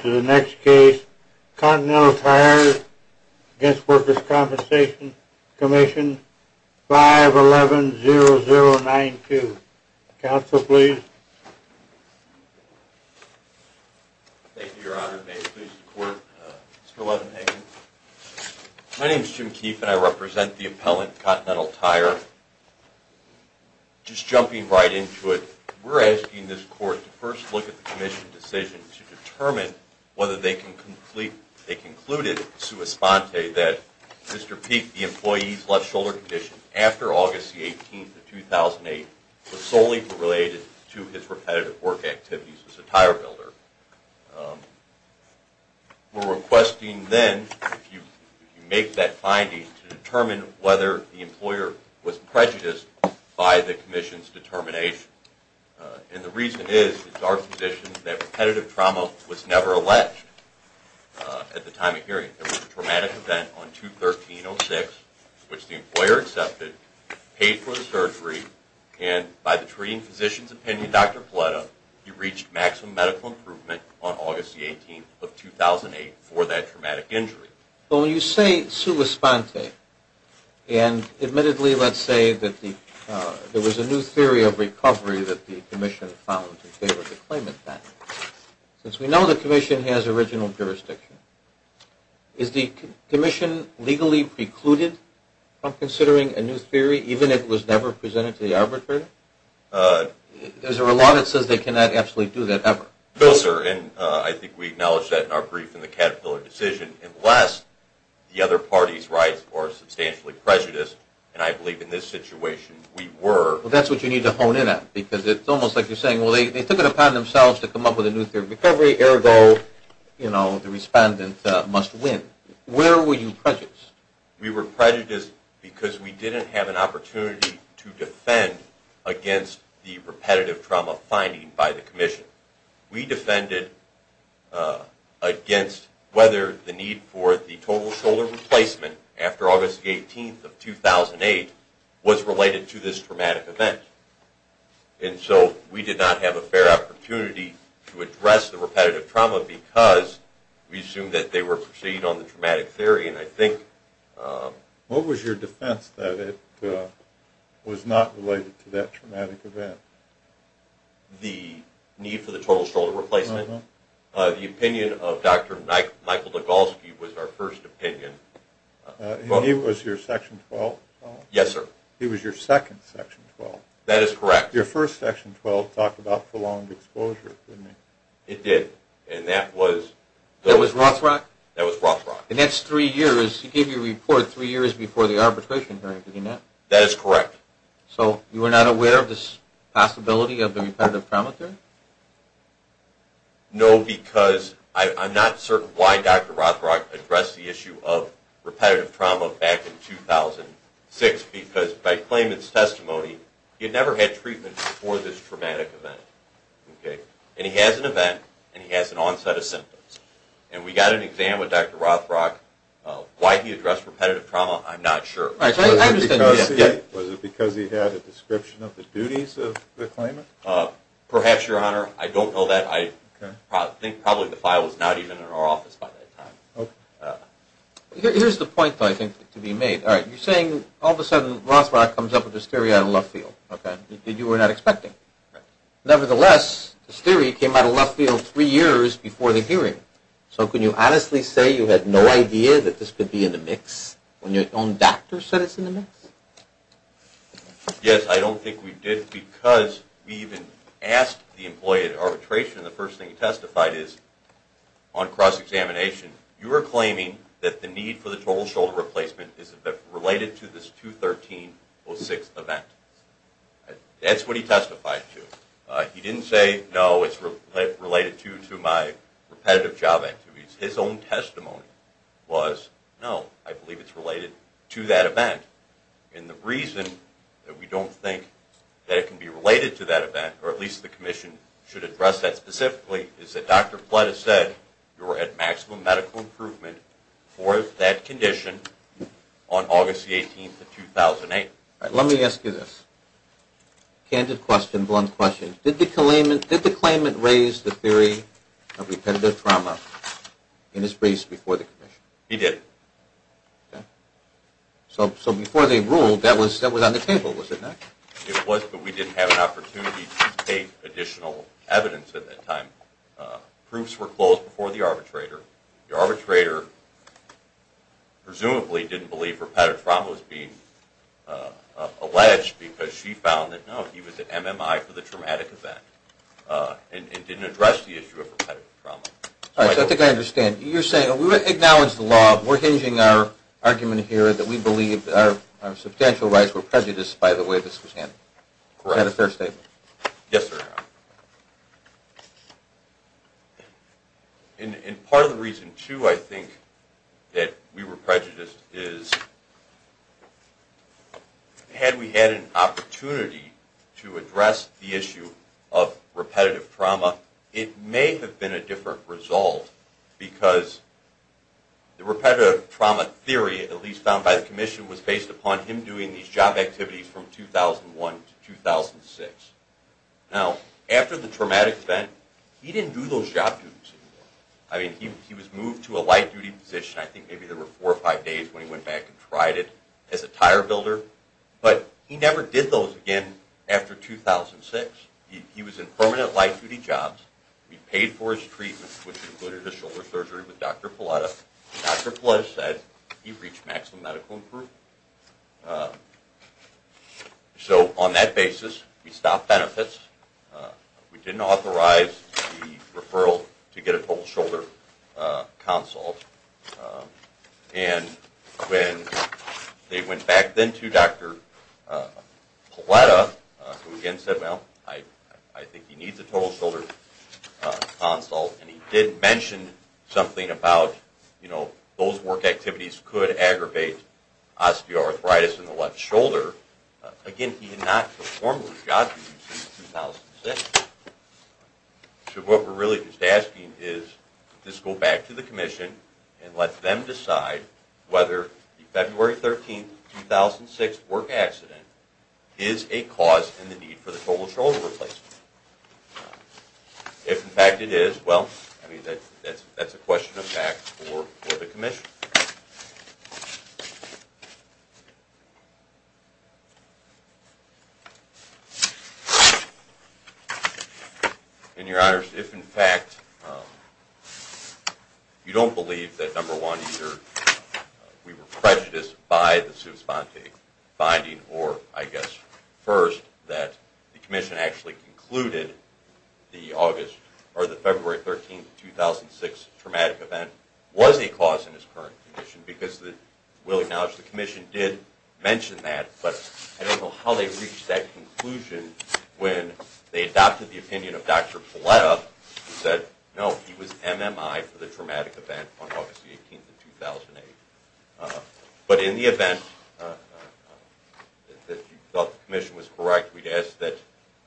to the next case, Continental Tire against Workers' Compensation Comm'n, 511-0092. Counsel, please. Thank you, Your Honor. May it please the Court, Mr. Levin-Hagin. My name is Jim Keefe, and I represent the appellant, Continental Tire. Your Honor, just jumping right into it, we're asking this Court to first look at the Commission's decision to determine whether they can conclude it sui sponte that Mr. Peek, the employee's left shoulder condition after August 18, 2008, was solely related to his repetitive work activities as a tire builder. We're requesting then, if you make that finding, to determine whether the employer was prejudiced by the Commission's determination. And the reason is, it's our position that repetitive trauma was never alleged at the time of hearing. There was a traumatic event on improvement on August 18, 2008, for that traumatic injury. Well, when you say sui sponte, and admittedly, let's say that there was a new theory of recovery that the Commission found in favor of the claimant finding, since we know the Commission has original jurisdiction, is the Commission legally precluded from considering a new theory, even if it was never presented to the arbitrator? Is there a law that says they cannot actually do that, ever? No, sir, and I think we acknowledge that in our brief in the Caterpillar decision, unless the other party's rights are substantially prejudiced, and I believe in this situation, we were. Well, that's what you need to hone in on, because it's almost like you're saying, well, they took it upon themselves to come up with a new theory of recovery, ergo, you know, the respondent must win. Where were you prejudiced? We were prejudiced because we didn't have an opportunity to defend against the repetitive trauma finding by the Commission. We defended against whether the need for the total shoulder replacement after August 18, 2008, was related to this traumatic event. And so we did not have a fair What was your defense that it was not related to that traumatic event? The need for the total shoulder replacement. The opinion of Dr. Michael Degolski was our first opinion. And he was your Section 12 fellow? Yes, sir. He was your second Section 12? That is correct. Your first Section 12 talked about prolonged exposure, didn't it? It did, and that was... That was Rothschild? That was Rothschild. The next three years, he gave you a report three years before the arbitration hearing, did he not? That is correct. So you were not aware of this possibility of the repetitive trauma theory? No, because I'm not certain why Dr. Rothschild addressed the issue of repetitive trauma back in 2006, because by claimant's testimony, he had never had treatment before this traumatic event, okay? And he has an event, and he has an onset of symptoms. And we got an exam with Dr. Rothschild, why he addressed repetitive trauma, I'm not sure. Was it because he had a description of the duties of the claimant? Perhaps, Your Honor. I don't know that. I think probably the file was not even in our office by that time. Here's the point, though, I think, to be made. You're saying all of a sudden, Rothschild comes up with this theory out of left field that you were not expecting. Nevertheless, this theory came out of left field three years before the hearing. So can you honestly say you had no idea that this could be in the mix, when your own doctor said it's in the mix? Yes, I don't think we did, because we even asked the employee at arbitration, the first thing he testified is, on cross-examination, you are claiming that the need for the total shoulder replacement is related to this 2013-06 event. That's what he testified to. He didn't say, no, it's related to my repetitive job activities. His own testimony was, no, I believe it's related to that event. And the reason that we don't think that it can be related to that event, or at least the commission should address that specifically, is that Dr. Flett has said you're at maximum medical improvement for that condition on August the 18th of 2008. Let me ask you this, candid question, blunt question. Did the claimant raise the theory of repetitive trauma in his briefs before the commission? He did. So before they ruled, that was on the table, was it not? It was, but we didn't have an opportunity to take additional evidence at that time. Proofs were closed before the arbitrator. The arbitrator presumably didn't believe repetitive trauma was being alleged, because she found that, no, he was an MMI for the traumatic event, and didn't address the issue of repetitive trauma. All right, so I think I understand. You're saying, we acknowledge the law. We're hinging our argument here that we believe our substantial rights were prejudiced by the way this was handled. Correct. Is that a fair statement? Yes, sir. Fair enough. And part of the reason, too, I think that we were prejudiced is, had we had an opportunity to address the issue of repetitive trauma, it may have been a different result, because the repetitive trauma theory, at least found by the commission, was based upon him doing these job activities from 2001 to 2006. Now, after the traumatic event, he didn't do those job duties anymore. I mean, he was moved to a light-duty position. I think maybe there were four or five days when he went back and tried it as a tire builder. But he never did those again after 2006. He was in permanent light-duty jobs. We paid for his treatment, which included a shoulder surgery with Dr. Paletta. Dr. Paletta said he reached maximum medical improvement. So on that basis, we stopped benefits. We didn't authorize the referral to get a total shoulder consult. And when they went back then to Dr. Paletta, who again said, well, I think he needs a total shoulder consult, and he did mention something about, you know, those work activities could aggravate osteoarthritis in the left shoulder. Again, he did not perform those job duties in 2006. So what we're really just asking is to just go back to the commission and let them decide whether the February 13, 2006 work accident is a cause in the need for the total shoulder replacement. If, in fact, it is, well, I mean, that's a question of fact for the commission. In your honors, if, in fact, you don't believe that, number one, either we were prejudiced by the sub-spontane finding, or I guess, first, that the commission actually concluded the August or the February 13, 2006 traumatic event was a cause in his current condition, because we'll acknowledge the commission did mention that, but I don't know how they reached that conclusion when they adopted the opinion of Dr. Paletta, who said, no, he was MMI for the traumatic event on August the 18th of 2008. But in the event that you thought the commission was correct, we'd ask that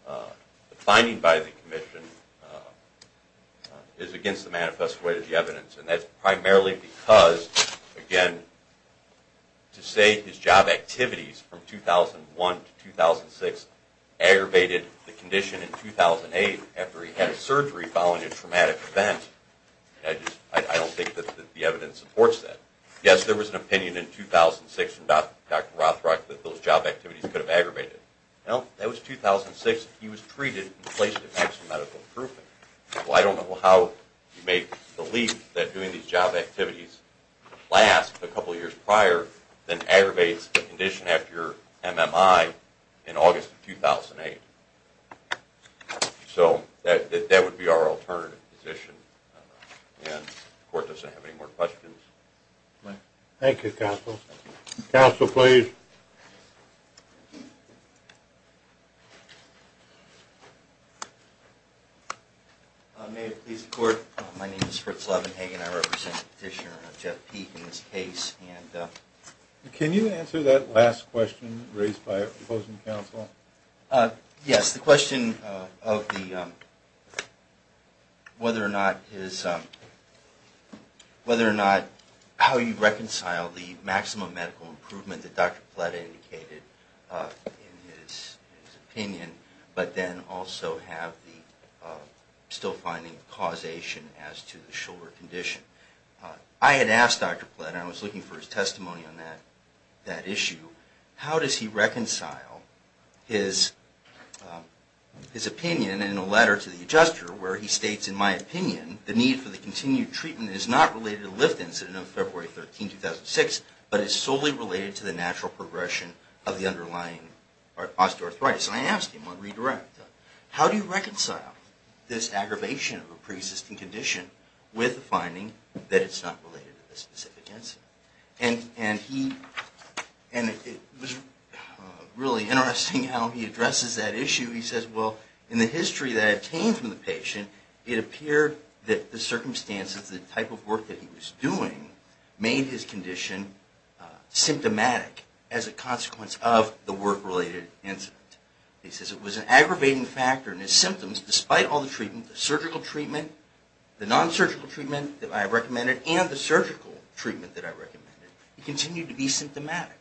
the finding by the commission is against the manifest way of the evidence, and that's primarily because, again, to say his job activities from 2001 to 2006 aggravated the condition in 2008 after he had surgery following a traumatic event, I don't think that the evidence supports that. Yes, there was an opinion in 2006 from Dr. Rothrock that those job activities could have aggravated. Well, that was 2006. He was treated and placed at maximum medical improvement. Well, I don't know how you make the leap that doing these job activities last a couple years prior than aggravates the condition after your MMI in August of 2008. So that would be our alternative position, and the court doesn't have any more questions. Thank you, counsel. Counsel, please. May it please the court, my name is Fritz Levenhagen. I represent Petitioner Jeff Peek in this case. Can you answer that last question raised by opposing counsel? Yes, the question of whether or not how you reconcile the maximum medical improvement that Dr. Plata indicated in his opinion, but then also have the still-finding causation as to the shoulder condition. I had asked Dr. Plata, and I was looking for his testimony on that issue, how does he reconcile his opinion in a letter to the adjuster where he states, in my opinion, the need for the continued treatment is not related to the lift incident of February 13, 2006, but is solely related to the natural progression of the underlying osteoarthritis. And I asked him on redirect, how do you reconcile this aggravation of a pre-existing condition with the finding that it's not related to the specific incident? And it was really interesting how he addresses that issue. He says, well, in the history that came from the patient, it appeared that the circumstances, the type of work that he was doing, made his condition symptomatic as a consequence of the work-related incident. He says it was an aggravating factor, and his symptoms, despite all the treatment, the surgical treatment, the non-surgical treatment that I recommended, and the surgical treatment that I recommended, he continued to be symptomatic.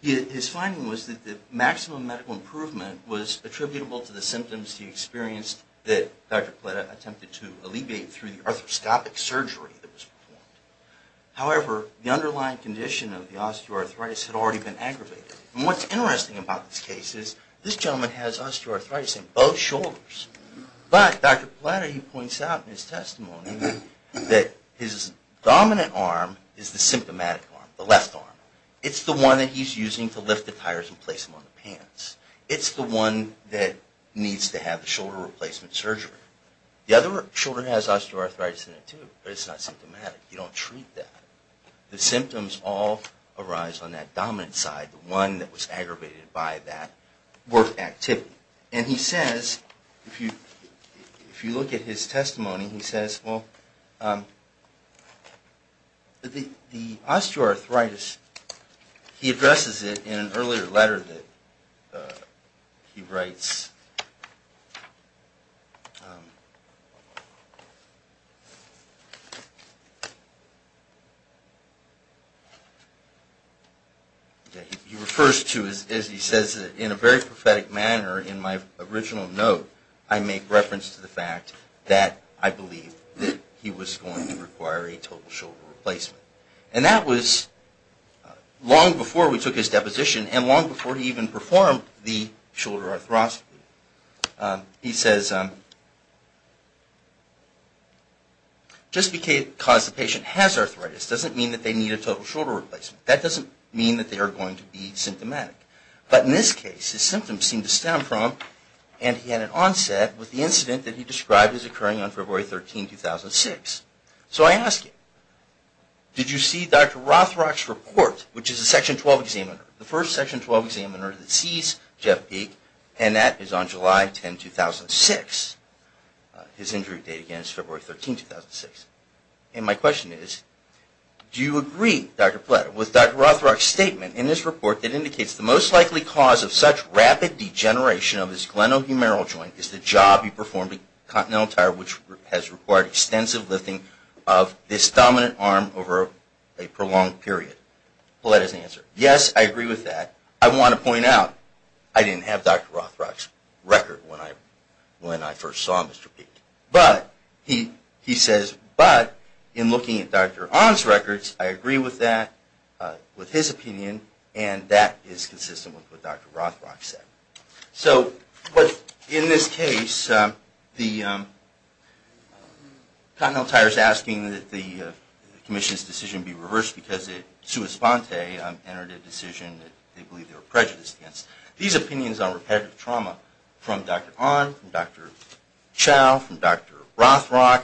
His finding was that the maximum medical improvement was attributable to the symptoms he experienced that Dr. Plata attempted to alleviate through the arthroscopic surgery that was performed. However, the underlying condition of the osteoarthritis had already been aggravated. And what's interesting about this case is this gentleman has osteoarthritis in both shoulders. But Dr. Plata, he points out in his testimony that his dominant arm is the symptomatic arm, the left arm. It's the one that he's using to lift the tires and place them on the pants. It's the one that needs to have the shoulder replacement surgery. The other shoulder has osteoarthritis in it, too, but it's not symptomatic. You don't treat that. The symptoms all arise on that dominant side, the one that was aggravated by that work activity. And he says, if you look at his testimony, he says, well, the osteoarthritis, he addresses it in an earlier letter that he writes. He refers to, as he says, in a very prophetic manner in my original note, I make reference to the fact that I believe that he was going to require a total shoulder replacement. And that was long before we took his deposition and long before he even performed the shoulder arthroscopy. He says, just because the patient has arthritis doesn't mean that they need a total shoulder replacement. That doesn't mean that they are going to be symptomatic. But in this case, his symptoms seem to stem from, and he had an onset, with the incident that he described as occurring on February 13, 2006. So I ask him, did you see Dr. Rothrock's report, which is a Section 12 examiner, the first Section 12 examiner that sees Jeff Peek, and that is on July 10, 2006? His injury date again is February 13, 2006. And my question is, do you agree, Dr. Pletter, with Dr. Rothrock's statement in this report that indicates the most likely cause of such rapid degeneration of his glenohumeral joint is the job he performed at Continental Tire, which has required extensive lifting of this dominant arm over a prolonged period? Pletter's answer, yes, I agree with that. I want to point out, I didn't have Dr. Rothrock's record when I first saw Mr. Peek. But, he says, but, in looking at Dr. Ahn's records, I agree with that, with his opinion, and that is consistent with what Dr. Rothrock said. So, but, in this case, Continental Tire is asking that the commission's decision be reversed because it, sua sponte, entered a decision that they believe they were prejudiced against. These opinions on repetitive trauma from Dr. Ahn, from Dr. Chow, from Dr. Rothrock,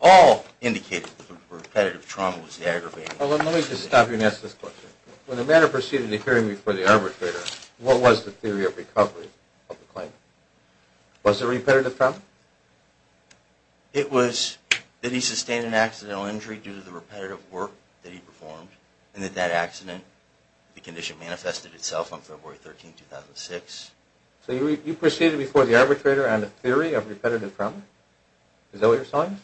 all indicated that the repetitive trauma was the aggravating factor. Let me just stop you and ask this question. When the matter proceeded to hearing before the arbitrator, what was the theory of recovery of the claim? Was it repetitive trauma? It was that he sustained an accidental injury due to the repetitive work that he performed and that that accident, the condition manifested itself on February 13, 2006. So you proceeded before the arbitrator on the theory of repetitive trauma? Is that what you're telling me?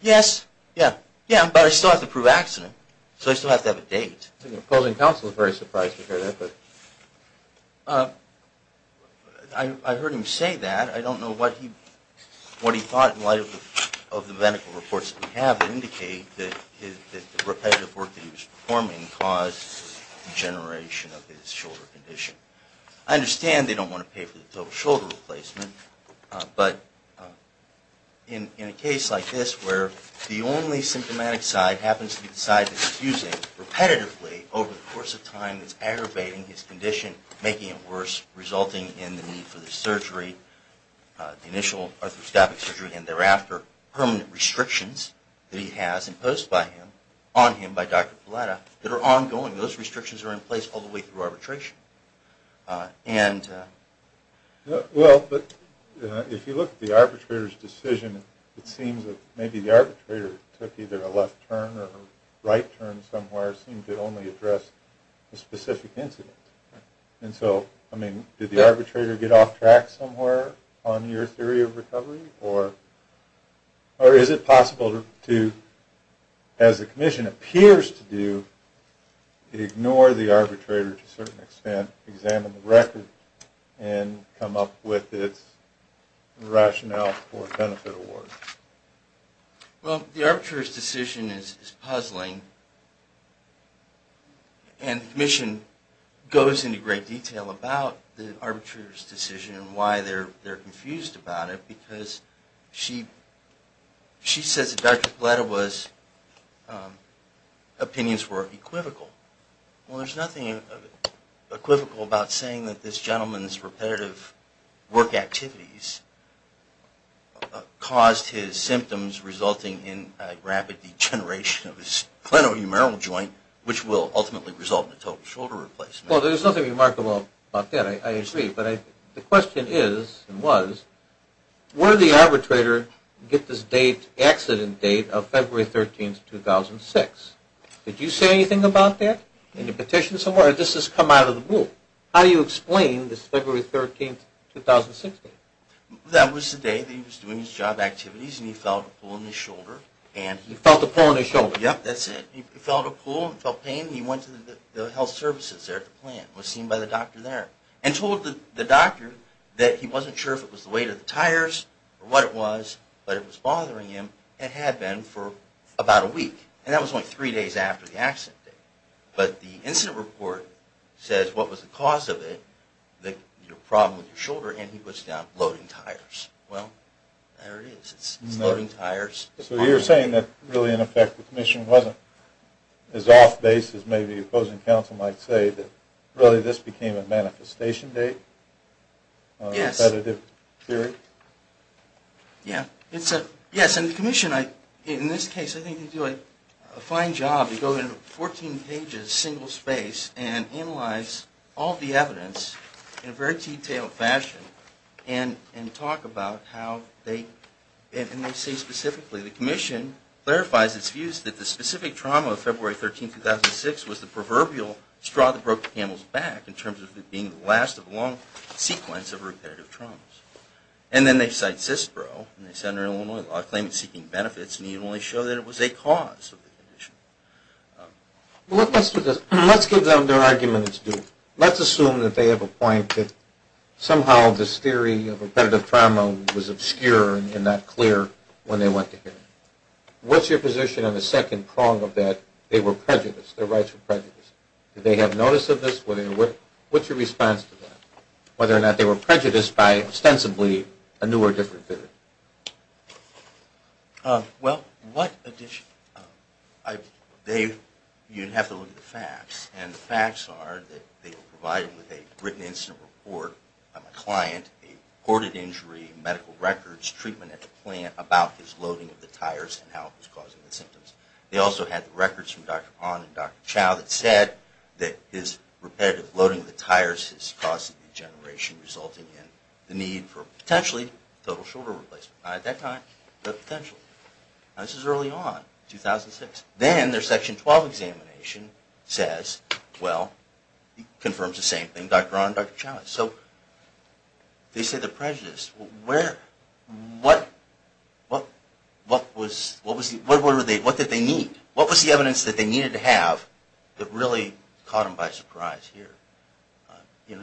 Yes, yeah, yeah, but I still have to prove accident. So I still have to have a date. The opposing counsel is very surprised to hear that. I heard him say that. I don't know what he thought in light of the medical reports that we have that indicate that the repetitive work that he was performing caused the degeneration of his shoulder condition. I understand they don't want to pay for the total shoulder replacement, but in a case like this where the only symptomatic side happens to be the side that's fusing repetitively over the course of time that's aggravating his condition, making it worse, resulting in the need for the surgery, the initial arthroscopic surgery, and thereafter permanent restrictions that he has imposed on him by Dr. Pilata that are ongoing. Those restrictions are in place all the way through arbitration. Well, but if you look at the arbitrator's decision, it seems that maybe the arbitrator took either a left turn or a right turn somewhere, seemed to only address a specific incident. And so, I mean, did the arbitrator get off track somewhere on your theory of recovery? Or is it possible to, as the commission appears to do, ignore the arbitrator to a certain extent, examine the record, and come up with its rationale for benefit award? Well, the arbitrator's decision is puzzling, and the commission goes into great detail about the arbitrator's decision and why they're confused about it, because she says that Dr. Pilata's opinions were equivocal. Well, there's nothing equivocal about saying that this gentleman's repetitive work activities caused his symptoms resulting in rapid degeneration of his clenohumeral joint, which will ultimately result in a total shoulder replacement. Well, there's nothing remarkable about that. I agree. But the question is, and was, where did the arbitrator get this accident date of February 13, 2006? Did you say anything about that in your petition somewhere, or did this just come out of the blue? How do you explain this February 13, 2006 date? That was the day that he was doing his job activities, and he felt a pull in his shoulder. He felt a pull in his shoulder. Yep, that's it. He felt a pull and felt pain, and he went to the health services there at the plant, was seen by the doctor there, and told the doctor that he wasn't sure if it was the weight of the tires or what it was, but it was bothering him, and had been for about a week. And that was only three days after the accident date. But the incident report says what was the cause of it, the problem with your shoulder, and he puts it down, bloating tires. Well, there it is. It's bloating tires. So you're saying that really, in effect, the commission wasn't as off-base as maybe opposing counsel might say, that really this became a manifestation date? Yes. A repetitive period? Yeah. Yes, and the commission, in this case, I think they do a fine job. They go into 14 pages, single space, and analyze all the evidence in a very detailed fashion and talk about how they, and they say specifically, the commission clarifies its views that the specific trauma of February 13, 2006, was the proverbial straw that broke the camel's back, in terms of it being the last of a long sequence of repetitive traumas. And then they cite CISPRO, and they say under Illinois law, claim it's seeking benefits, and they only show that it was a cause of the condition. Well, let's do this. Let's give them their argument it's due. Let's assume that they have a point that somehow this theory of repetitive trauma was obscure and not clear when they went to hearing. What's your position on the second prong of that? They were prejudiced. Their rights were prejudiced. Did they have notice of this? What's your response to that? Whether or not they were prejudiced by, ostensibly, a new or different theory? Well, what addition? You'd have to look at the facts, and the facts are that they were provided with a written incident report by my client, a reported injury, medical records, treatment at the plant about his loading of the tires and how it was causing the symptoms. They also had records from Dr. Pond and Dr. Chow that said that his repetitive loading of the tires has caused a degeneration, resulting in the need for, potentially, total shoulder replacement. Not at that time, but potentially. This is early on, 2006. Then their Section 12 examination says, well, it confirms the same thing, Dr. Pond and Dr. Chow. So they say they're prejudiced. What did they need? What was the evidence that they needed to have that really caught them by surprise here? If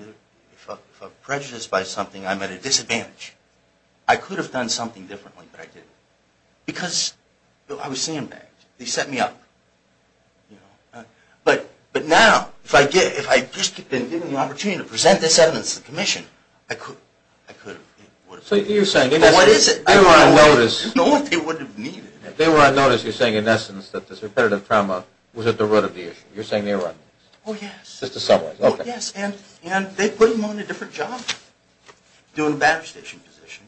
I'm prejudiced by something, I'm at a disadvantage. I could have done something differently, but I didn't. Because I was sandbagged. They set me up. But now, if I had just been given the opportunity to present this evidence to the Commission, I could have. So you're saying they were unnoticed. They wouldn't have needed it. They were unnoticed. You're saying, in essence, that this repetitive trauma was at the root of the issue. You're saying they were unnoticed. Oh, yes. Just to summarize. Oh, yes. And they put him on a different job. Doing a battery station position.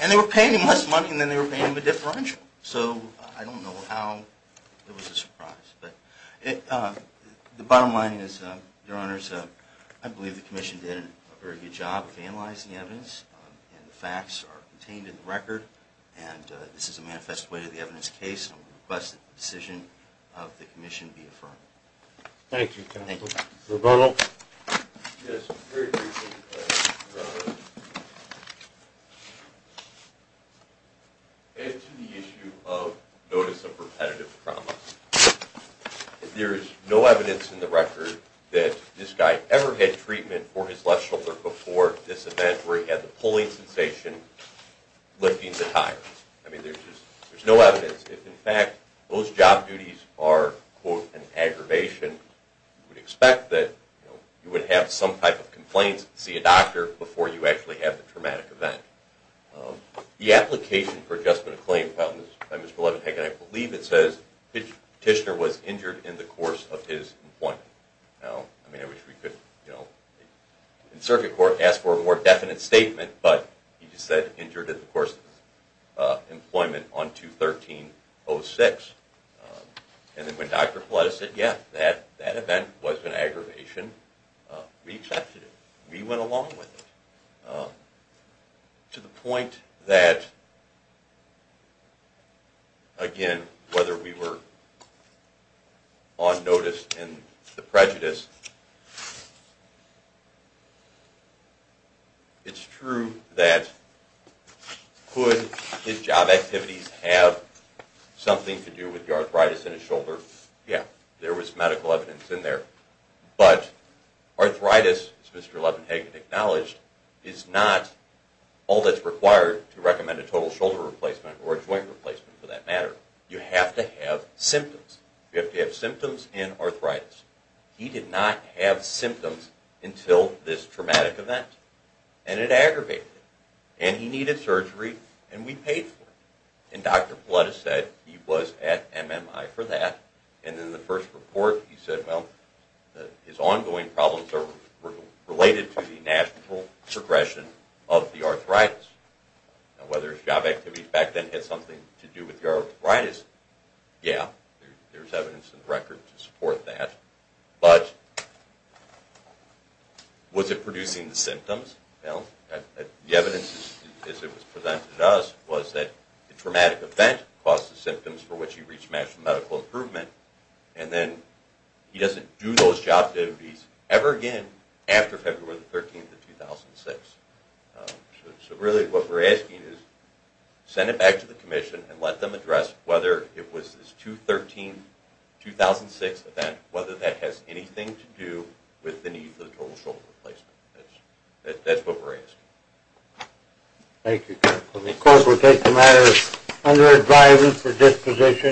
And they were paying him less money than they were paying him a differential. So I don't know how it was a surprise. But the bottom line is, Your Honors, I believe the Commission did a very good job of analyzing the evidence. And the facts are contained in the record. And this is a manifest way to the evidence case. Thank you, counsel. Thank you. Mr. Bernal. Yes. Very briefly, Your Honors. Add to the issue of notice of repetitive trauma. If there is no evidence in the record that this guy ever had treatment for his left shoulder before this event where he had the pulling sensation lifting the tire. I mean, there's just no evidence. If, in fact, those job duties are, quote, an aggravation, you would expect that you would have some type of complaints to see a doctor before you actually have the traumatic event. The application for adjustment of claim found by Mr. Levenheck, and I believe it says, the petitioner was injured in the course of his employment. Now, I mean, I wish we could, you know, in circuit court, ask for a more definite statement. But he just said injured in the course of his employment on 213-06. And then when Dr. Paletta said, yeah, that event was an aggravation, we accepted it. We went along with it. To the point that, again, whether we were on notice in the prejudice, it's true that could his job activities have something to do with the arthritis in his shoulder? Yeah, there was medical evidence in there. But arthritis, as Mr. Levenheck acknowledged, is not all that's required to recommend a total shoulder replacement or a joint replacement for that matter. You have to have symptoms. You have to have symptoms and arthritis. He did not have symptoms until this traumatic event. And it aggravated it. And he needed surgery, and we paid for it. And Dr. Paletta said he was at MMI for that. And in the first report, he said, well, his ongoing problems are related to the national progression of the arthritis. Now, whether his job activities back then had something to do with the arthritis, yeah, there's evidence in the record to support that. But was it producing the symptoms? The evidence, as it was presented to us, was that the traumatic event caused the symptoms for which he reached national medical improvement, and then he doesn't do those job activities ever again after February 13, 2006. So really, what we're asking is send it back to the commission and let them address whether it was this 2-13-2006 event, whether that has anything to do with the need for the total shoulder replacement. That's what we're asking. Thank you. The court will take the matter under advisement for disposition.